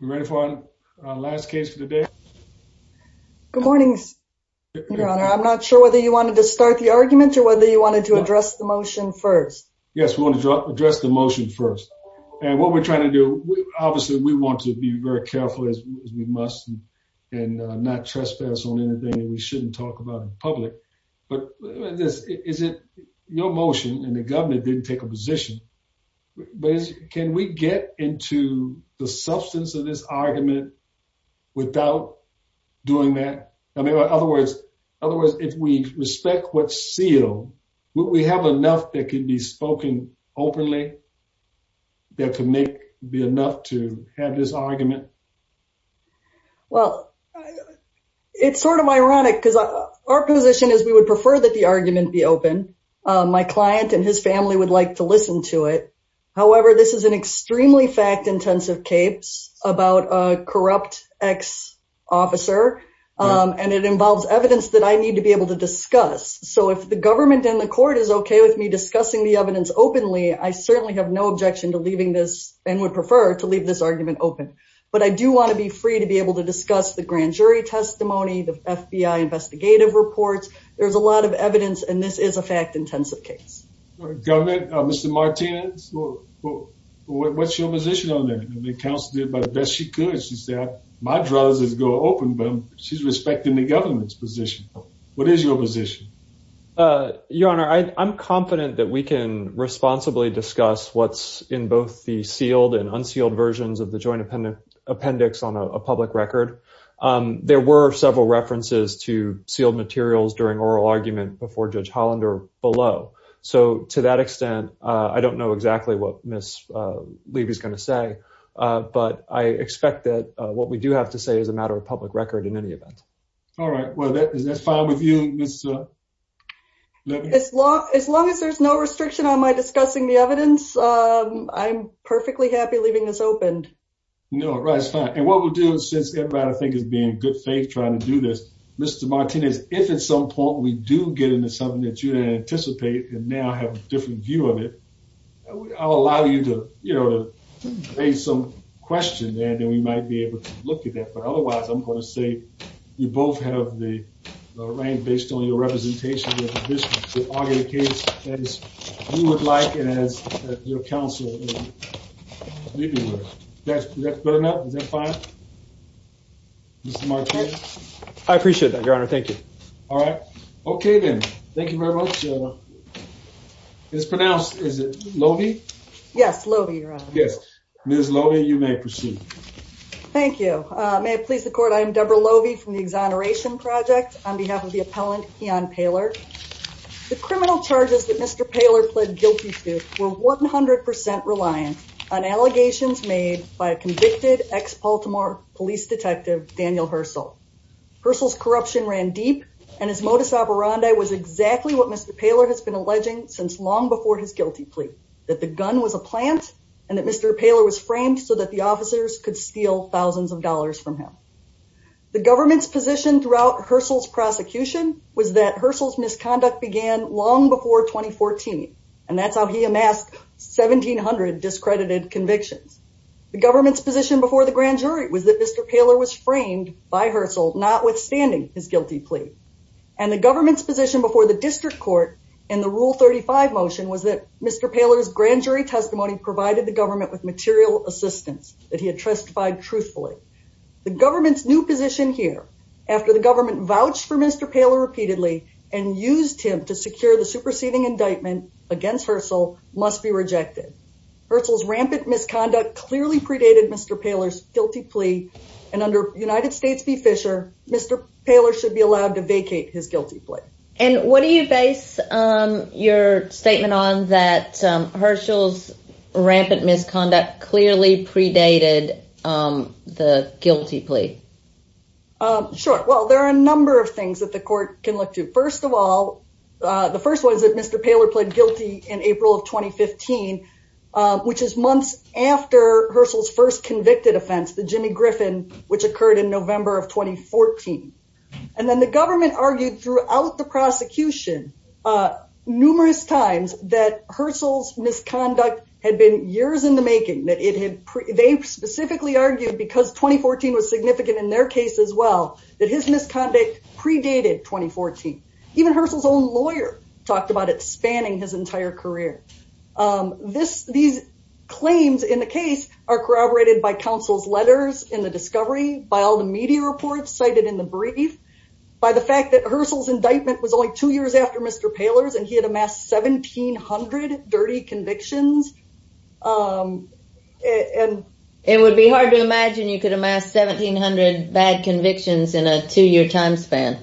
ready for our last case for the day. Good morning, Your Honor. I'm not sure whether you wanted to start the argument or whether you wanted to address the motion first. Yes, we want to address the motion first. And what we're trying to do. Obviously, we want to be very careful as we must and not trespass on anything that we shouldn't talk about in court. But is it your motion and the government didn't take a position. But can we get into the substance of this argument without doing that? I mean, in other words, if we respect what's sealed, will we have enough that can be spoken openly? There could be enough to have this argument. Well, it's sort of ironic because our position is we would prefer that the argument be open. My client and his family would like to listen to it. However, this is an extremely fact intensive case about a corrupt ex officer. And it involves evidence that I need to be able to discuss. So if the government and the court is okay with me discussing the evidence openly, I certainly have no objection to leaving this and would prefer to leave this argument open. But I do want to be free to be able to discuss the grand jury testimony, the FBI investigative reports. There's a lot of evidence, and this is a fact intensive case government. Mr Martinez, what's your position on that? The council did by the best she could. She said my drugs is go open, but she's respecting the government's position. What is your position? Your Honor, I'm confident that we can responsibly discuss what's in both the sealed and unsealed versions of the joint appendix appendix on a public record. There were several references to sealed materials during oral argument before Judge Hollander below. So to that extent, I don't know exactly what Miss Levy's gonna say, but I expect that what we do have to say is a matter of public record in any event. All right, well, that's fine with you, Miss Levy. As long as there's no restriction on my discussing the evidence, I'm perfectly happy leaving this open. No, right, it's fine. And what we'll do since everybody I think is being in good faith trying to do this, Mr. Martinez, if at some point we do get into something that you didn't anticipate and now have a different view of it, I'll allow you to, you know, to raise some questions and then we might be able to look at that. But otherwise, I'm going to say you both have the rank based on your representation of your position. We argue the case as you would like and as your counsel would. That's good enough? Is that fine? Mr. Martinez? I appreciate that, Your Honor. Thank you. All right. Okay, then. Thank you very much. It's pronounced, is it Lovie? Yes, Lovie, Your Honor. Thank you. May it please the court. I'm Deborah Lovie from the Exoneration Project on behalf of the appellant, Keon Paylor. The criminal charges that Mr. Paylor pled guilty to were 100% reliant on allegations made by a convicted ex-Paltimore police detective, Daniel Hursle. Hursle's corruption ran deep and his modus operandi was exactly what Mr. Paylor has been alleging since long before his guilty plea, that the gun was a plant and that Mr. Paylor was framed so that the officers could steal thousands of dollars from him. The government's position throughout Hursle's prosecution was that Hursle's misconduct began long before 2014 and that's how he amassed 1,700 discredited convictions. The government's position before the grand jury was that Mr. Paylor was framed by Hursle, notwithstanding his guilty plea. And the government's position before the district court in the Rule 35 motion was that Mr. Paylor's grand jury testimony provided the government with material assistance that he had testified truthfully. The government's new position here, after the government vouched for Mr. Paylor repeatedly and used him to secure the superseding indictment against Hursle, must be rejected. Hursle's rampant misconduct clearly predated Mr. Paylor's guilty plea and under United States v. Fisher, Mr. Paylor should be allowed to vacate his guilty plea. And what do you base your statement on that Hursle's rampant misconduct clearly predated the guilty plea? Sure. Well, there are a number of things that the court can look to. First of all, the first one is that Mr. Paylor pled guilty in April of 2015, which is months after Hursle's first convicted offense, the Jimmy Griffin, which occurred in November of 2014. And then the government argued throughout the prosecution numerous times that Hursle's misconduct had been years in the making. They specifically argued, because 2014 was significant in their case as well, that his misconduct predated 2014. Even Hursle's own lawyer talked about it spanning his entire career. These claims in the case are corroborated by counsel's in the discovery, by all the media reports cited in the brief, by the fact that Hursle's indictment was only two years after Mr. Paylor's and he had amassed 1,700 dirty convictions. It would be hard to imagine you could amass 1,700 bad convictions in a two-year time span.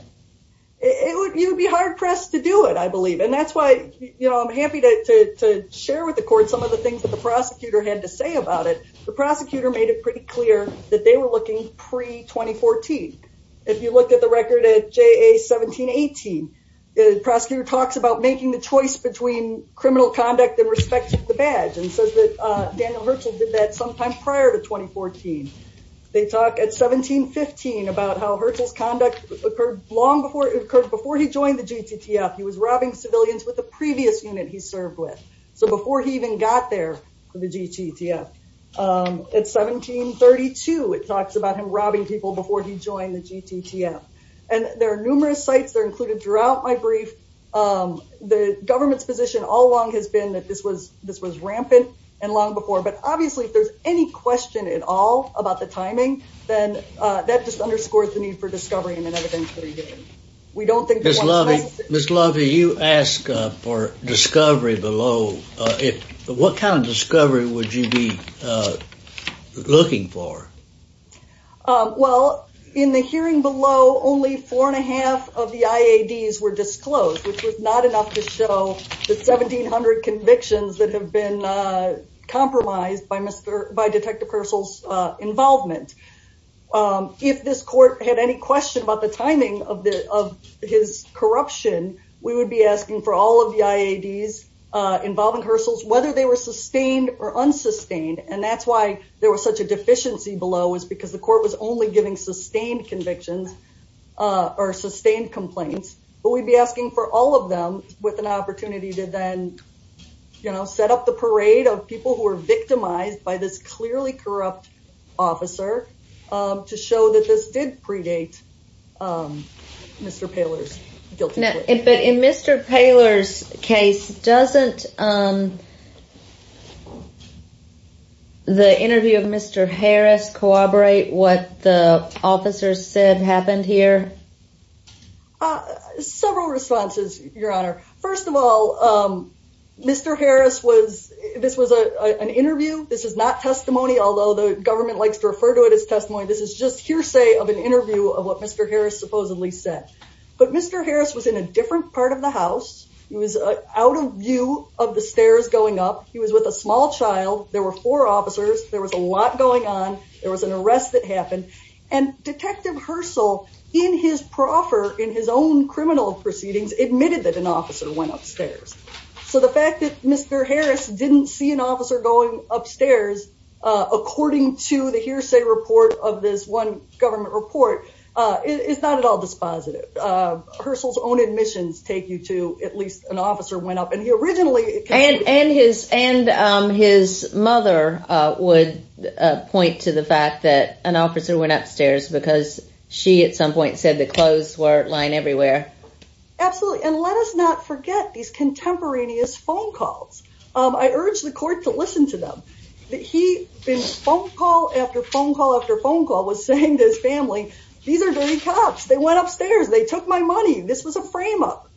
You'd be hard-pressed to do it, I believe. And that's why I'm happy to share with the court some of the things that the prosecutor had to say about it. The prosecutor made it pretty clear that they were looking pre-2014. If you look at the record at JA 1718, the prosecutor talks about making the choice between criminal conduct in respect to the badge and says that Daniel Hursle did that sometime prior to 2014. They talk at 1715 about how Hursle's conduct occurred before he joined the GTTF. He was robbing civilians with the talks about him robbing people before he joined the GTTF. And there are numerous sites that are included throughout my brief. The government's position all along has been that this was rampant and long before. But obviously, if there's any question at all about the timing, then that just underscores the need for discovery and an evidence-based inquiry. We don't think there's one- Ms. Lovey, you asked for discovery below. What kind of discovery would you be looking for? Well, in the hearing below, only four-and-a-half of the IADs were disclosed, which was not enough to show the 1,700 convictions that have been compromised by Detective Hursle's involvement. If this court had any question about the timing of his corruption, we would be asking for all of the IADs involving Hursle's, whether they were sustained or unsustained. And that's why there was such a deficiency below, was because the court was only giving sustained convictions or sustained complaints. But we'd be asking for all of them with an opportunity to then set up the parade of people who were victimized by this clearly corrupt officer to show that this did predate Mr. Poehler's guilty plea. But in Mr. Poehler's case, doesn't the interview of Mr. Harris corroborate what the officers said happened here? Several responses, Your Honor. First of all, Mr. Harris was- this was an interview. This is not testimony, although the government likes to refer to it as testimony. This is just hearsay of an interview of what Mr. Harris supposedly said. But Mr. Harris was in a different part of the house. He was out of view of the stairs going up. He was with a small child. There were four officers. There was a lot going on. There was an arrest that happened. And Detective Hursle, in his proffer, in his own criminal proceedings, admitted that an officer went upstairs. So the fact that Mr. Harris didn't see an officer going upstairs according to the hearsay report of this one government report is not at all dispositive. Hursle's own admissions take you to at least an officer went up. And he originally- And his mother would point to the fact that an officer went upstairs because she, at some point, said the clothes were lying everywhere. Absolutely. And let us not forget these contemporaneous phone calls. I urge the court to listen to them. Phone call after phone call after phone call was saying to his family, these are dirty cops. They went upstairs. They took my money. This was a frame up.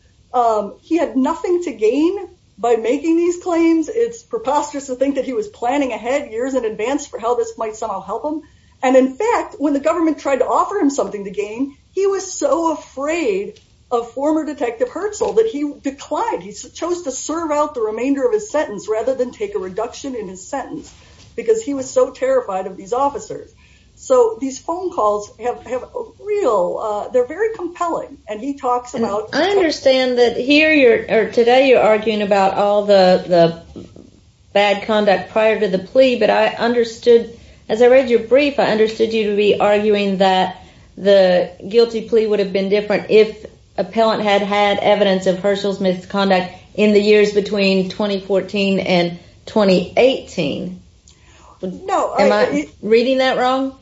He had nothing to gain by making these claims. It's preposterous to think that he was planning ahead years in advance for how this might somehow help him. And in fact, when the government tried to offer him something to gain, he was so afraid of former Detective Hursle that he declined. He chose to serve out the remainder of his sentence rather than take a reduction in his sentence because he was so terrified of these officers. So these phone calls have real, they're very compelling. And he talks about- I understand that here you're, or today you're arguing about all the bad conduct prior to the plea. But I understood, as I read your brief, I understood you to be arguing that the guilty plea would have been different if appellant had had evidence of Hursle's misconduct in the years between 2014 and 2018. Am I reading that wrong?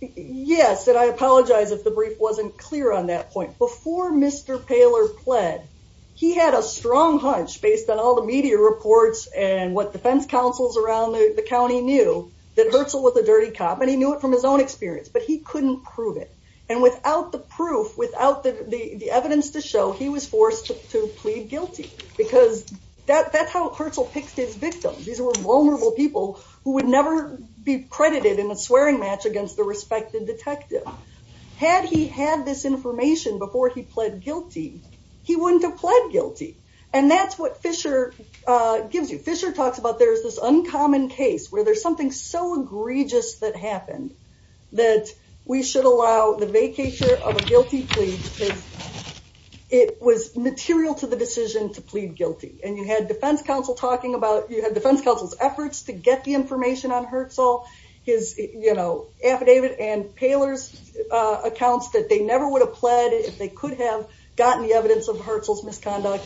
Yes. And I apologize if the brief wasn't clear on that point. Before Mr. Paler pled, he had a strong hunch based on all the media reports and what defense councils around the county knew that Hursle was a dirty cop. And he knew it from his own experience, but he couldn't prove it. And without the proof, without the evidence to show, he was forced to plead guilty because that's how Hursle picked his victims. These were vulnerable people who would never be credited in a swearing match against the respected detective. Had he had this information before he pled guilty, he wouldn't have pled guilty. And that's what Fisher gives you. Fisher talks about there's this uncommon case where there's something so egregious that happened that we should allow the vacature of a guilty plea because it was material to the decision to plead guilty. And you had defense council talking about, you had defense council's efforts to get the information on Hursle, his, you know, affidavit and Paler's accounts that they never would have pled if they could have gotten the evidence of Hursle's misconduct.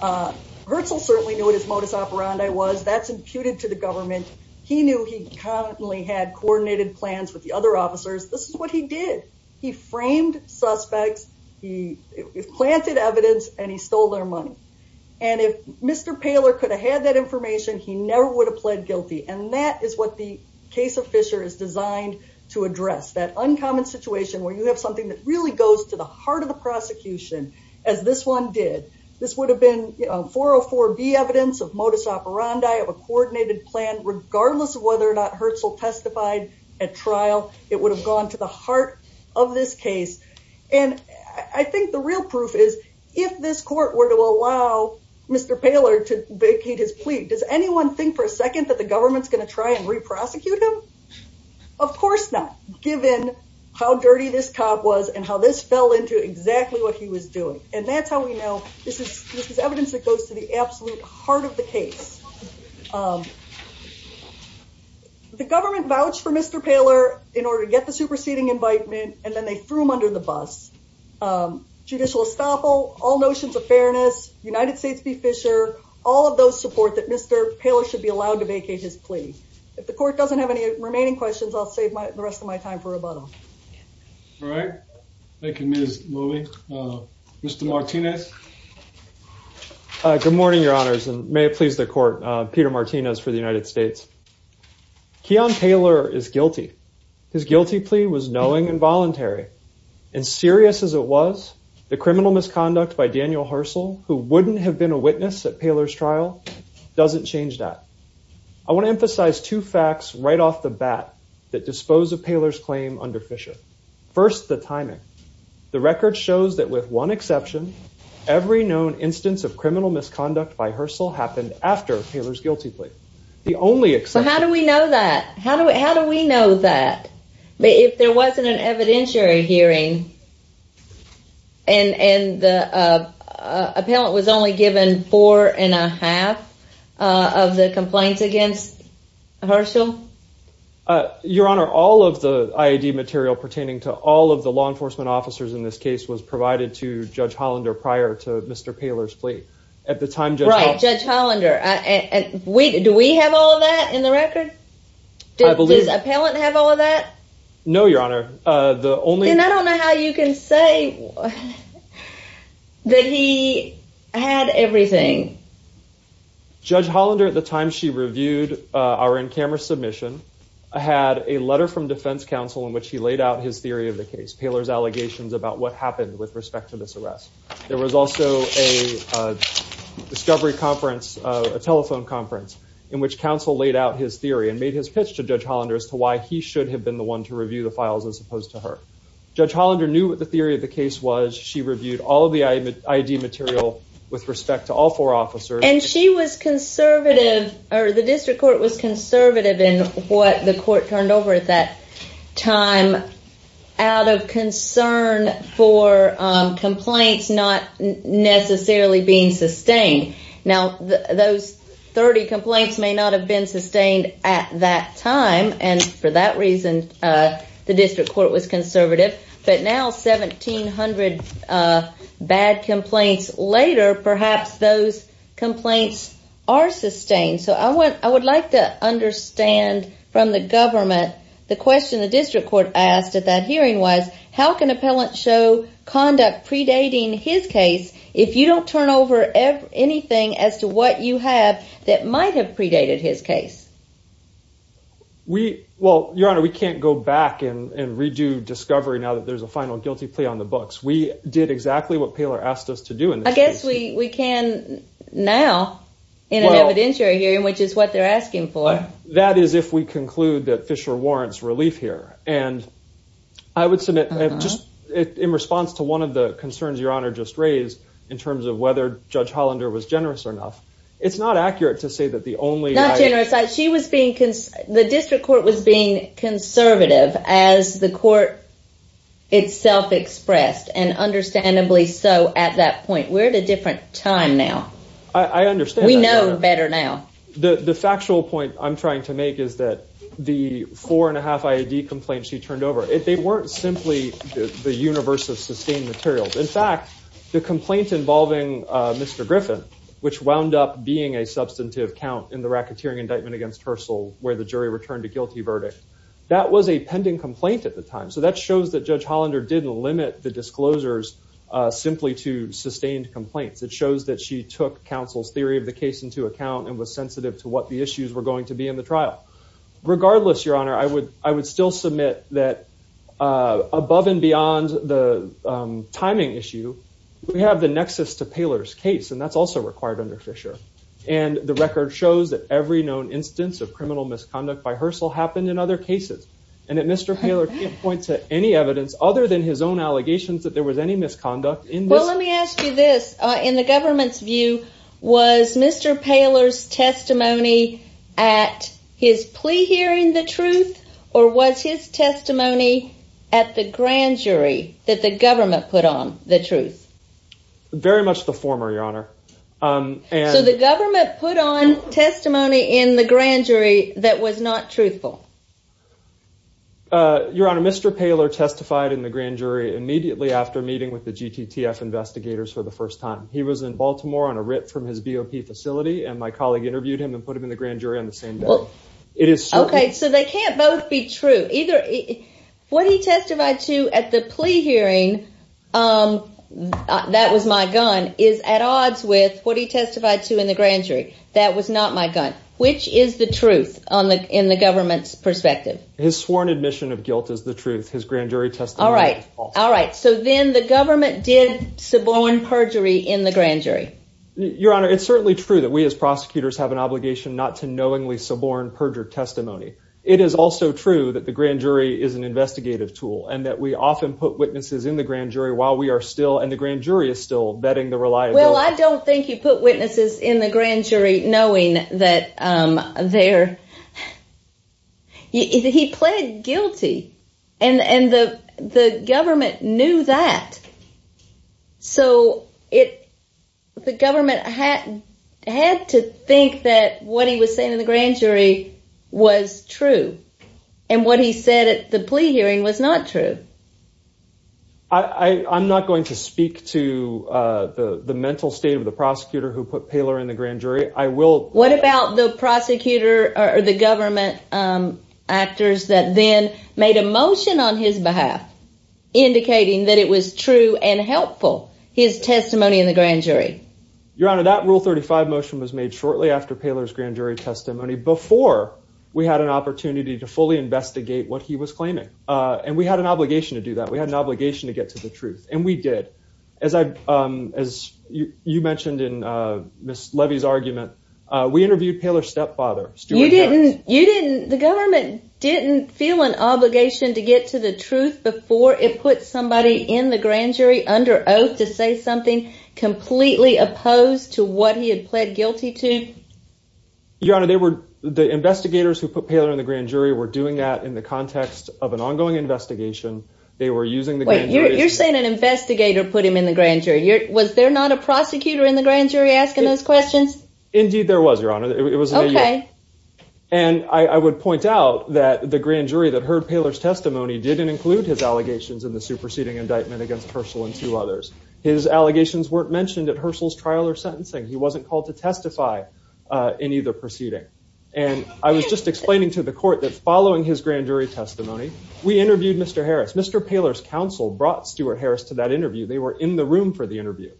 Hursle certainly knew what his modus operandi was. That's imputed to the government. He knew he constantly had coordinated plans with the other officers. This is what he did. He framed suspects. He planted evidence and he stole their money. And if Mr. Paler could have had that information, he never would have pled guilty. And that is what the case of Fisher is designed to address. That uncommon situation where you have something that really goes to the heart of the prosecution as this one did. This would have been, you know, 404B evidence of modus operandi of a coordinated plan regardless of whether or not Hursle testified at trial. It would have gone to the heart of this case. And I think the real proof is if this court were to allow Mr. Paler to vacate his plea, does anyone think for a second that the government's going to try and re-prosecute him? Of course not, given how dirty this cop was and how this fell into exactly what he was doing. And that's how we know this is evidence that goes to the absolute heart of the case. The government vouched for Mr. Paler in order to get the superseding invitement and then they threw him under the bus. Judicial estoppel, all notions of fairness, United States v. Fisher, all of those things. So I think there's a lot of support that Mr. Paler should be allowed to vacate his plea. If the court doesn't have any remaining questions, I'll save the rest of my time for rebuttal. All right. Thank you, Ms. Muehle. Mr. Martinez? Good morning, your honors, and may it please the court. Peter Martinez for the United States. Keon Paler is guilty. His guilty plea was knowing and doesn't change that. I want to emphasize two facts right off the bat that dispose of Paler's claim under Fisher. First, the timing. The record shows that with one exception, every known instance of criminal misconduct by Herschel happened after Paler's guilty plea. The only exception... How do we know that? How do we know that? If there wasn't an evidentiary hearing and the appellant was only given four and a half of the complaints against Herschel? Your honor, all of the IED material pertaining to all of the law enforcement officers in this case was provided to Judge Hollander prior to Mr. Paler's plea. At the time, Judge Hollander... Right, Judge Hollander. Do we have all of that in the record? I believe... Does the appellant have all of that? No, your honor. I don't know how you can say that he had everything. Judge Hollander, at the time she reviewed our in-camera submission, had a letter from defense counsel in which he laid out his theory of the case, Paler's allegations about what happened with respect to this arrest. There was also a discovery conference, a telephone conference, in which counsel laid out his theory and made his pitch to Judge Hollander as to why he should have been the one to review the files as opposed to her. Judge Hollander knew what the theory of the case was. She reviewed all of the IED material with respect to all four officers. And she was conservative, or the district court was conservative in what the court turned over at that time out of concern for complaints not necessarily being sustained. Now, those 30 the district court was conservative, but now 1,700 bad complaints later, perhaps those complaints are sustained. So I would like to understand from the government the question the district court asked at that hearing was, how can appellant show conduct predating his case if you don't turn over anything as to what you have that might have predated his case? Well, Your Honor, we can't go back and redo discovery now that there's a final guilty plea on the books. We did exactly what Paler asked us to do in this case. I guess we can now in an evidentiary hearing, which is what they're asking for. That is if we conclude that Fisher warrants relief here. And I would submit just in response to one of the concerns Your Honor just raised in terms of whether Judge Hollander was generous or not, it's not accurate to say that the only Not generous. The district court was being conservative as the court itself expressed, and understandably so at that point. We're at a different time now. I understand. We know better now. The factual point I'm trying to make is that the four and a half IAD complaints she turned over, they weren't simply the universe of sustained materials. In fact, the complaint involving Mr. Racketeering indictment against Herschel, where the jury returned a guilty verdict, that was a pending complaint at the time. So that shows that Judge Hollander didn't limit the disclosures simply to sustained complaints. It shows that she took counsel's theory of the case into account and was sensitive to what the issues were going to be in the trial. Regardless, Your Honor, I would still submit that above and beyond the timing issue, we have the nexus to Paler's case, and that's also required under Fisher. And the record shows that every known instance of criminal misconduct by Herschel happened in other cases. And that Mr. Paler can't point to any evidence other than his own allegations that there was any misconduct in Well, let me ask you this. In the government's view, was Mr. Paler's testimony at his plea hearing the truth, or was his testimony at the grand jury that the government put on the truth? Very much the former, Your Honor. So the government put on testimony in the grand jury that was not truthful? Your Honor, Mr. Paler testified in the grand jury immediately after meeting with the GTTF investigators for the first time. He was in Baltimore on a rip from his BOP facility, and my colleague interviewed him and put him in the grand jury on the same day. Okay, so they can't both be true. What he testified to at the plea hearing, um, that was my gun, is at odds with what he testified to in the grand jury. That was not my gun. Which is the truth in the government's perspective? His sworn admission of guilt is the truth. His grand jury testimony is false. All right, all right. So then the government did suborn perjury in the grand jury? Your Honor, it's certainly true that we as prosecutors have an obligation not to knowingly suborn perjured testimony. It is also true that the grand jury is an investigative tool, and that we often put witnesses in the grand jury while we are still, and the grand jury is still, vetting the reliability. Well, I don't think you put witnesses in the grand jury knowing that, um, they're... He pled guilty, and the government knew that. So the government had to think that what he was saying in the grand jury was true, and what he said at the plea hearing was not true. I'm not going to speak to, uh, the mental state of the prosecutor who put Paler in the grand jury. I will... What about the prosecutor or the government, um, actors that then made a motion on his behalf indicating that it was true and helpful, his testimony in the grand jury? Your Honor, that Rule 35 motion was made shortly after Paler's grand jury testimony, before we had an opportunity to fully investigate what he was claiming, uh, and we had an obligation to do that. We had an obligation to get to the truth, and we did. As I, um, as you mentioned in, uh, Ms. Levy's argument, uh, we interviewed Paler's stepfather, Stuart Harris. You didn't... You didn't... The government didn't feel an obligation to get to the truth before it put somebody in the grand jury under oath to say something completely opposed to what he had pled guilty to? Your Honor, they were... The investigators who put Paler in the grand jury were doing that in the context of an ongoing investigation. They were using the... Wait, you're saying an investigator put him in the grand jury. Was there not a prosecutor in the grand jury asking those questions? Indeed, there was, Your Honor. It was... Okay. And I would point out that the grand jury that heard Paler's testimony didn't include his allegations in the superseding indictment against Herschel and two others. His allegations weren't mentioned at Herschel's trial or sentencing. He wasn't called to testify, uh, in either proceeding. And I was just explaining to the court that following his grand jury testimony, we interviewed Mr. Harris. Mr. Paler's counsel brought Stuart Harris to that interview. They were in the room for the interview.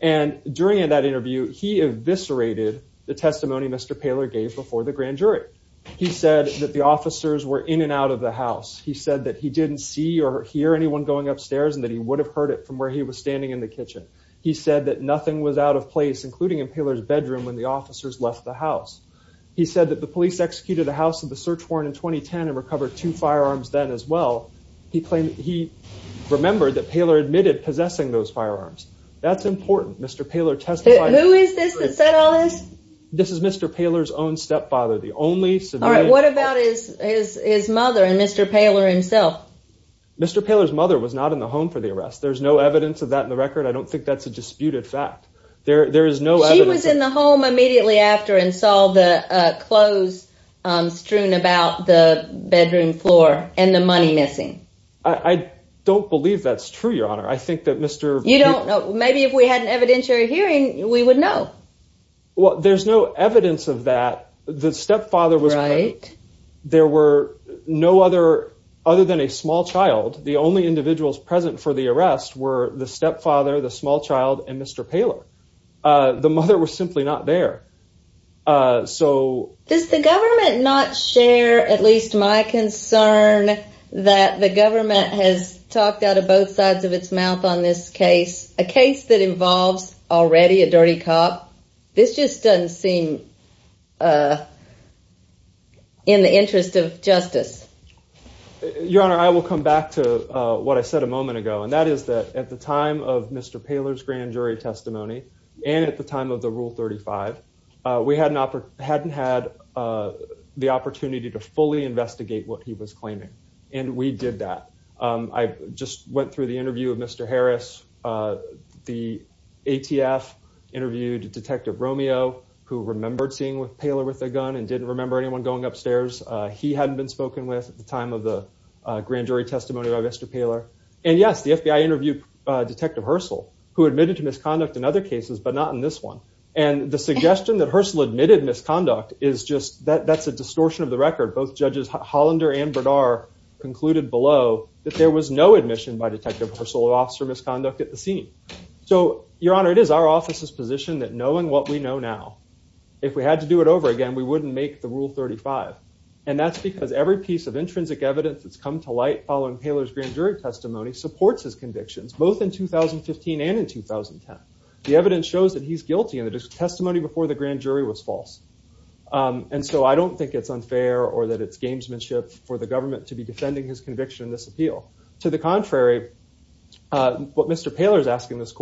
And during that interview, he eviscerated the testimony Mr. Paler gave before the grand jury. He said that the officers were in and out of the house. He said that he didn't see or hear anyone going upstairs and that he would have heard it from where he was standing in the kitchen. He said that nothing was out of place, including in Paler's bedroom when the officers left the house. He said that the police executed the house of the search warrant in 2010 and recovered two firearms then as well. He claimed he remembered that Paler admitted possessing those firearms. That's important. Mr. Paler testified... Who is this that said all this? This is Mr. Paler's own stepfather, the only civilian... All right, what about his, his, his mother and Mr. Paler himself? Mr. Paler's mother was not in the home for the arrest. There's no evidence of that in the record. I don't think that's a disputed fact. There, there is no evidence... She was in the home immediately after and saw the clothes strewn about the bedroom floor and the money missing. I don't believe that's true, Your Honor. I think that Mr... You don't know. Maybe if we had an evidentiary hearing, we would know. Well, there's no evidence of that. The stepfather was... Right. There were no other, other than a small child, the only individuals present for the arrest were the stepfather, the small child, and Mr. Paler. The mother was simply not there. So... Does the government not share at least my concern that the government has talked out of both sides of its mouth on this case, a case that involves already a dirty cop? This just doesn't seem in the interest of justice. Your Honor, I will come back to what I said a moment ago. And that is that at the time of Mr. Paler's grand jury testimony, and at the time of the Rule 35, we hadn't had the opportunity to fully investigate what he was claiming. And we did that. I just went through the interview of Mr. Harris. The ATF interviewed Detective Romeo, who remembered seeing with Paler with a gun and didn't remember anyone going upstairs. He hadn't been spoken with at the time of the grand jury testimony by Mr. Paler. And yes, the FBI interviewed Detective Hursle, who admitted to misconduct in other cases, but not in this one. And the suggestion that Hursle admitted misconduct is just... That's a distortion of the record. Both judges, Hollander and Bernard, concluded below that there was no admission by Detective Hursle of officer misconduct at the scene. So, Your Honor, it is our office's position that knowing what we know now, if we had to do it over again, we wouldn't make the Rule 35. And that's because every piece of intrinsic evidence that's come to light following Paler's grand jury testimony supports his convictions, both in 2015 and in 2010. The evidence shows that he's guilty and the testimony before the grand jury was false. And so I don't think it's unfair or that it's gamesmanship for the government to be defending his conviction in this appeal. To the contrary, what Mr. Paler is asking this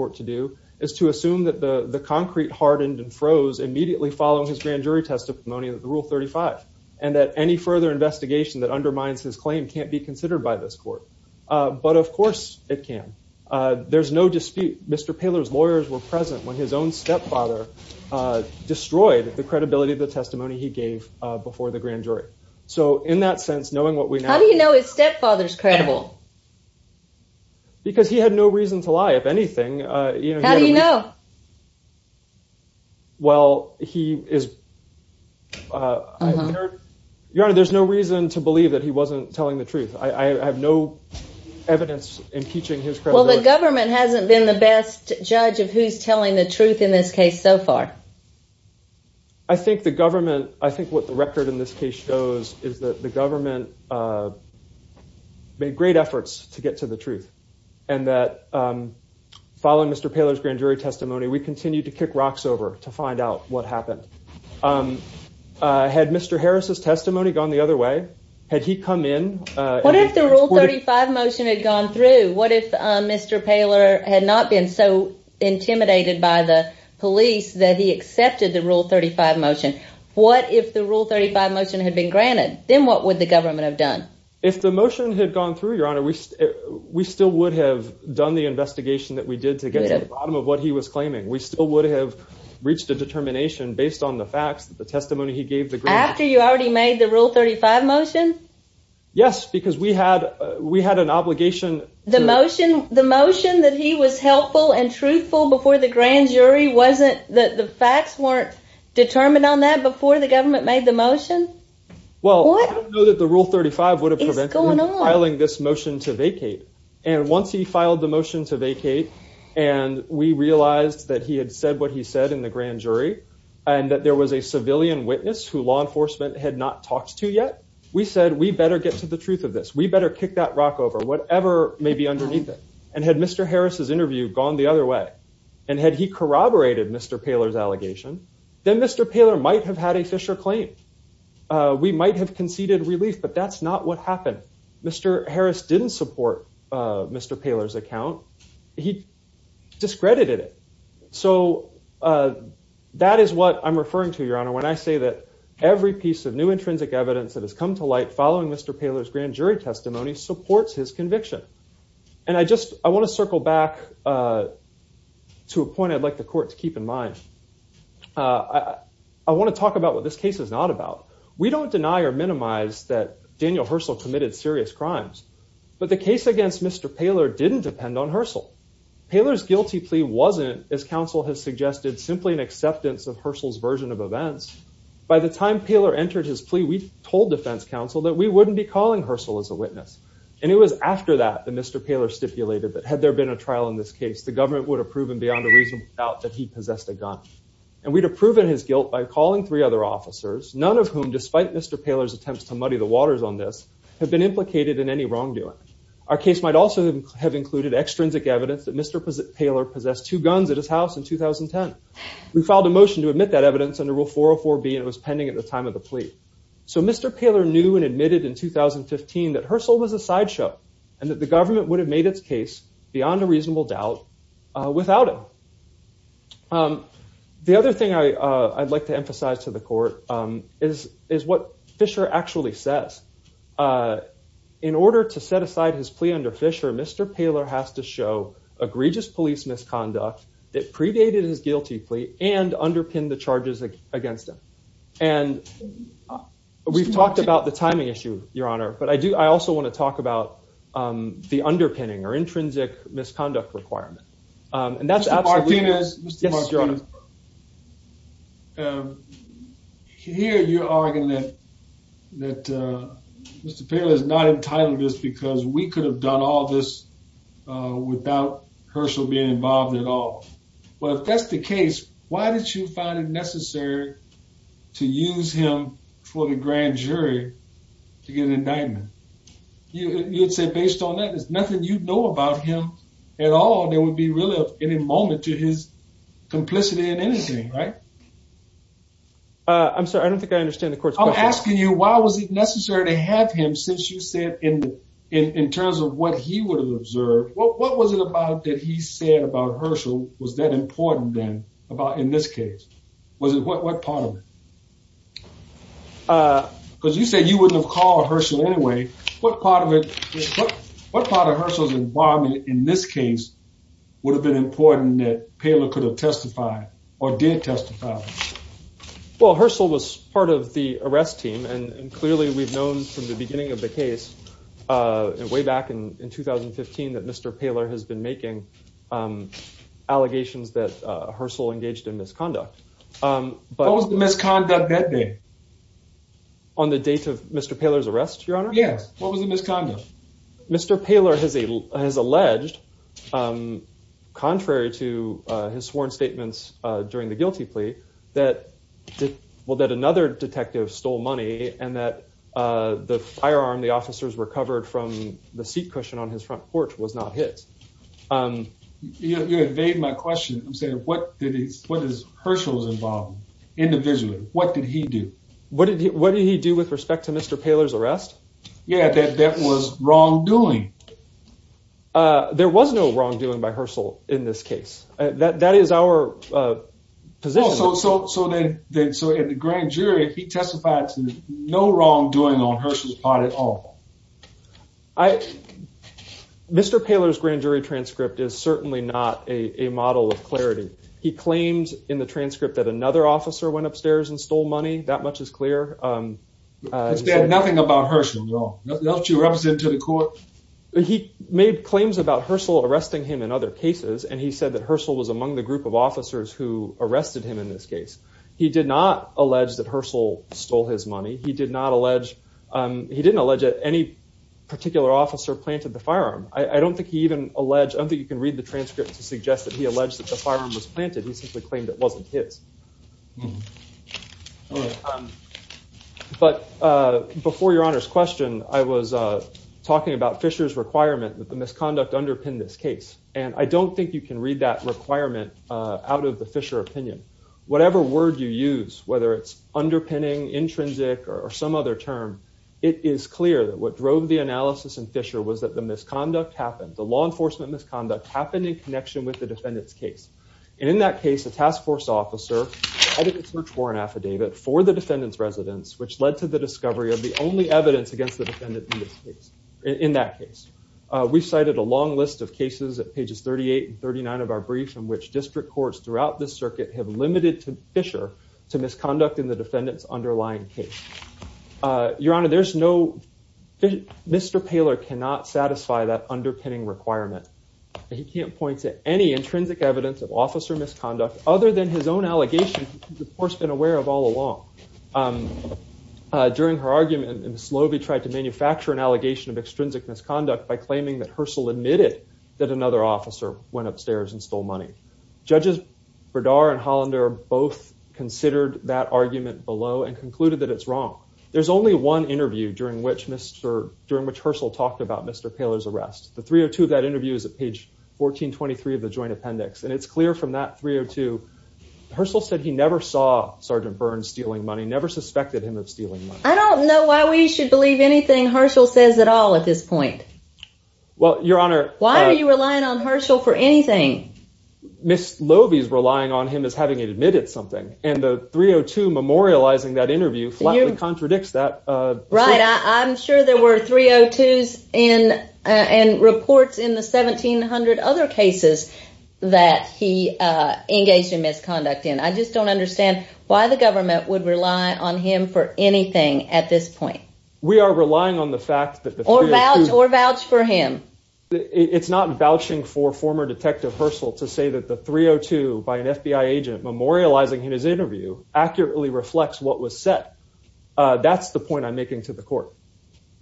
following his grand jury testimony of the Rule 35. And that any further investigation that undermines his claim can't be considered by this court. But of course it can. There's no dispute. Mr. Paler's lawyers were present when his own stepfather destroyed the credibility of the testimony he gave before the grand jury. So in that sense, knowing what we know... How do you know his stepfather's credible? Because he had no reason to lie, if anything. How do you know? Well, he is... Your Honor, there's no reason to believe that he wasn't telling the truth. I have no evidence impeaching his credibility. Well, the government hasn't been the best judge of who's telling the truth in this case so far. I think the government... I think what the record in this case shows is that the government made great efforts to get to the truth. And that following Mr. Paler's grand jury testimony, we continued to kick rocks over to find out what happened. Had Mr. Harris' testimony gone the other way? Had he come in... What if the Rule 35 motion had gone through? What if Mr. Paler had not been so intimidated by the police that he accepted the Rule 35 motion? What if the Rule 35 motion had been granted? Then what would the government have done? If the motion had gone through, Your Honor, we still would have done the investigation that we did to get to the bottom of what he was claiming. We still would have reached a determination based on the facts, the testimony he gave the grand jury. After you already made the Rule 35 motion? Yes, because we had an obligation... The motion that he was helpful and truthful before the grand jury wasn't... The facts weren't determined on that before the government made the motion? Well, I know that the Rule 35 would have prevented him from filing this motion to vacate. And once he filed the motion to vacate, and we realized that he had said what he said in the grand jury, and that there was a civilian witness who law enforcement had not talked to yet, we said, we better get to the truth of this. We better kick that rock over, whatever may be underneath it. And had Mr. Harris' interview gone the other way, and had he corroborated Mr. Poehler's allegation, then Mr. Poehler might have had a Fisher claim. We might have conceded relief, but that's not what happened. Mr. Harris didn't support Mr. Poehler's account. He discredited it. So that is what I'm referring to, Your Honor, when I say that every piece of new intrinsic evidence that has come to light following Mr. Poehler's grand jury testimony supports his conviction. And I just, I want to circle back to a point I'd like the court to keep in mind. I want to talk about what this case is not about. We don't deny or minimize that Daniel Herschel committed serious crimes, but the case against Mr. Poehler didn't depend on Herschel. Poehler's guilty plea wasn't, as counsel has suggested, simply an acceptance of Herschel's version of events. By the time Poehler entered his plea, we told defense counsel that we wouldn't be calling Herschel as a witness. And it was after that that Mr. Poehler stipulated that had there been a trial in this case, the government would have proven beyond a reasonable doubt that he possessed a gun. And we'd have proven his guilt by calling three other officers, none of whom, despite Mr. Poehler's attempts to muddy the waters on this, have been implicated in any wrongdoing. Our case might also have included extrinsic evidence that Mr. Poehler possessed two guns at his house in 2010. We filed a motion to admit that evidence under Rule 404B, and it was pending at the time of the plea. So Mr. Poehler knew and admitted in 2015 that Herschel was a sideshow, and that the government would have made its case, beyond a reasonable doubt, without him. The other thing I'd like to emphasize to the court is what Fisher actually says. In order to set aside his plea under Fisher, Mr. Poehler has to show egregious police misconduct that predated his guilty plea and underpinned the charges against him. And we've talked about the timing issue, Your Honor, but I also want to talk about the underpinning or intrinsic misconduct requirement. And that's absolutely... Mr. Martinez. Yes, Your Honor. Here you're arguing that Mr. Poehler is not entitled to this because we could have done all this without Herschel being involved at all. Well, if that's the case, why did you find it necessary to use him for the grand jury to get an indictment? You would say based on that there's nothing you'd know about him at all that would be really of any moment to his complicity in anything, right? I'm sorry, I don't think I understand the court's question. I'm asking you why was it necessary to have him since you said in terms of what he would have observed, what was it about that he said about Herschel was that important then in this case? What part of it? Because you said you wouldn't have called Herschel anyway. What part of it, what part of Herschel's involvement in this case would have been important that Poehler could have testified or did testify? Well, Herschel was part of the arrest team and clearly we've known from the beginning of the case way back in 2015 that Mr. Poehler has been making allegations that Herschel engaged in misconduct. What was the misconduct that day? On the date of Mr. Poehler's arrest, Your Honor? Yes. What was the misconduct? Mr. Poehler has alleged, contrary to his sworn statements during the guilty plea, that well that another detective stole money and that the firearm the officers recovered from the seat cushion on his front porch was not his. You evade my question. I'm saying what did he, what is Herschel's involvement individually? What did he do? What did he do with respect to Mr. Poehler's arrest? Yeah, that was wrongdoing. There was no wrongdoing by Herschel in this case. That is our position. So, so, so then, then so in the grand jury, he testified to no wrongdoing on Herschel's part at all. I, Mr. Poehler's grand jury transcript is certainly not a model of clarity. He claims in the transcript that another officer went upstairs and stole money, that much is clear. He said nothing about Herschel at all? Nothing else you represent to the court? He made claims about Herschel arresting him in other cases and he said that Herschel was among the group of officers who arrested him in this case. He did not allege that Herschel stole his money. He did not allege, he didn't allege that any particular officer planted the firearm. I don't think he even alleged, I don't think you can read the transcript to suggest that he alleged the firearm was planted. He simply claimed it wasn't his. But before your honor's question, I was talking about Fisher's requirement that the misconduct underpinned this case, and I don't think you can read that requirement out of the Fisher opinion. Whatever word you use, whether it's underpinning, intrinsic, or some other term, it is clear that what drove the analysis in Fisher was that the misconduct happened, the law enforcement misconduct happened in connection with the defendant's case. And in that case, the task force officer had a search warrant affidavit for the defendant's residence, which led to the discovery of the only evidence against the defendant in this case, in that case. We've cited a long list of cases at pages 38 and 39 of our brief in which district courts throughout this circuit have limited to Fisher to misconduct in the defendant's underlying case. Your honor, there's no, Mr. Poehler cannot satisfy that underpinning requirement. He can't point to any intrinsic evidence of officer misconduct other than his own allegations, which he's, of course, been aware of all along. During her argument, Ms. Lobey tried to manufacture an allegation of extrinsic misconduct by claiming that Herschel admitted that another officer went upstairs and stole money. Judges Berdar and Hollander both considered that argument below and concluded that it's wrong. There's only one interview during which Herschel talked about Mr. Poehler's arrest. The 302 of that interview is at page 1423 of the joint appendix. And it's clear from that 302, Herschel said he never saw Sergeant Burns stealing money, never suspected him of stealing money. I don't know why we should believe anything Herschel says at all at this point. Well, your honor. Why are you relying on Herschel for anything? Ms. Lobey's relying on him as having admitted something. And the 302 memorializing that interview flatly contradicts that. Right. I'm sure there were 302s and reports in the 1,700 other cases that he engaged in misconduct in. I just don't understand why the government would rely on him for anything at this point. We are relying on the fact that the... Or vouch for him. It's not vouching for former FBI agent memorializing in his interview accurately reflects what was said. That's the point I'm making to the court.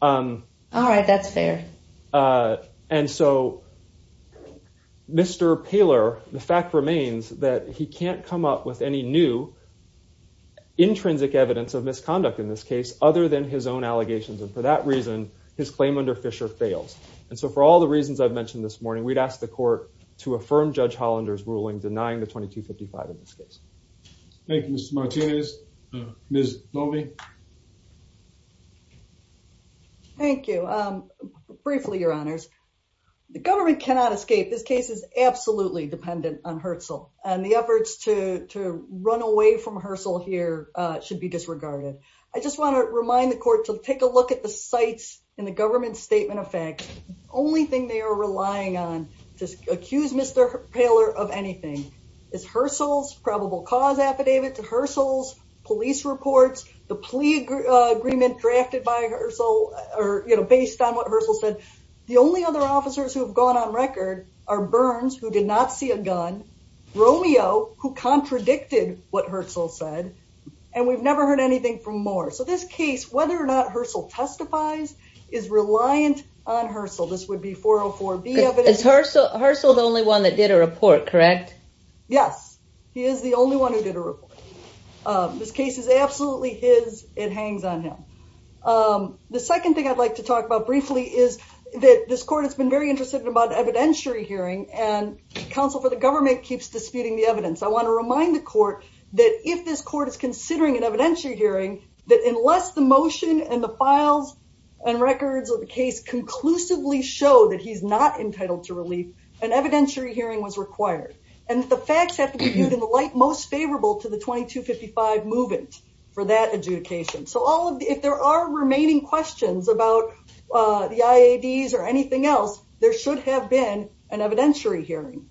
All right. That's fair. And so Mr. Poehler, the fact remains that he can't come up with any new intrinsic evidence of misconduct in this case other than his own allegations. And for that reason, his claim under Fisher fails. And so for all the reasons I've mentioned this morning, we'd ask the court to affirm Judge Hollander's 2255 in this case. Thank you, Mr. Martinez. Ms. Lobey. Thank you. Briefly, your honors, the government cannot escape. This case is absolutely dependent on Herschel and the efforts to run away from Herschel here should be disregarded. I just want to remind the court to take a look at the sites in the government statement of fact. Only thing they are relying on to accuse Mr. Poehler of anything is Herschel's probable cause affidavit to Herschel's police reports, the plea agreement drafted by Herschel, or based on what Herschel said. The only other officers who have gone on record are Burns, who did not see a gun, Romeo, who contradicted what Herschel said, and we've never heard anything from Moore. So this case, whether or not Herschel testifies, is reliant on Herschel. This would be 404B evidence. Is Herschel the only one that did a report, correct? Yes, he is the only one who did a report. This case is absolutely his. It hangs on him. The second thing I'd like to talk about briefly is that this court has been very interested about evidentiary hearing and counsel for the government keeps disputing the evidence. I want to remind the court that if this court is considering an evidentiary hearing, that unless the motion and the files and records of the case conclusively show that he's not entitled to relief, an evidentiary hearing was required, and the facts have to be viewed in the light most favorable to the 2255 movement for that adjudication. So if there are remaining questions about the IADs or anything else, there should have been an evidentiary hearing.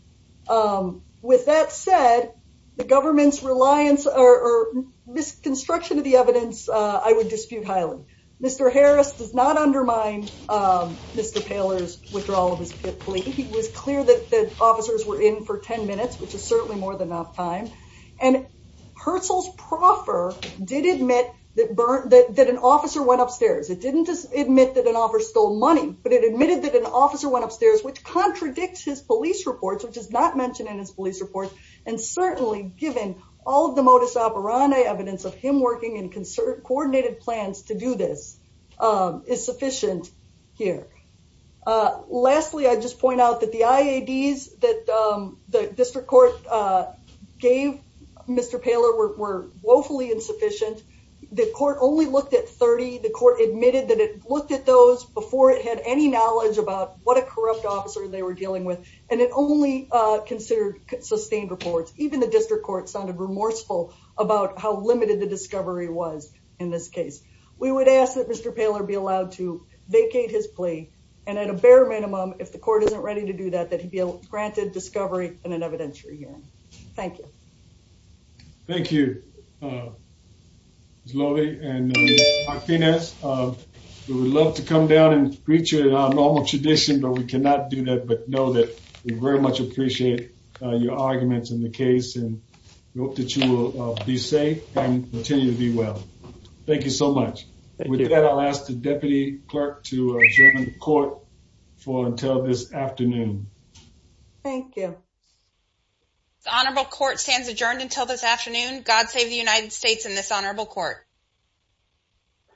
With that said, the government's reliance or misconstruction of the evidence, I would dispute highly. Mr. Harris does not undermine Mr. Poehler's withdrawal of his plea. He was clear that the officers were in for 10 minutes, which is certainly more than enough time, and Herschel's proffer did admit that an officer went upstairs. It didn't just admit that an officer stole money, but it admitted that an officer went upstairs, which contradicts his police reports, which is not mentioned in his police report, and certainly given all the modus operandi evidence of him working in concert coordinated plans to do this, is sufficient here. Lastly, I just point out that the IADs that the district court gave Mr. Poehler were woefully insufficient. The court only had any knowledge about what a corrupt officer they were dealing with, and it only considered sustained reports. Even the district court sounded remorseful about how limited the discovery was in this case. We would ask that Mr. Poehler be allowed to vacate his plea, and at a bare minimum, if the court isn't ready to do that, that he be granted discovery and an evidentiary hearing. Thank you. Thank you, Ms. Lovey and Dr. Pines. We would love to come down and greet you in our normal tradition, but we cannot do that, but know that we very much appreciate your arguments in the case, and we hope that you will be safe and continue to be well. Thank you so much. With that, I'll ask the deputy clerk to adjourn the court for until this afternoon. Thank you. Honorable court stands adjourned until this afternoon. God save the United States in this honorable court.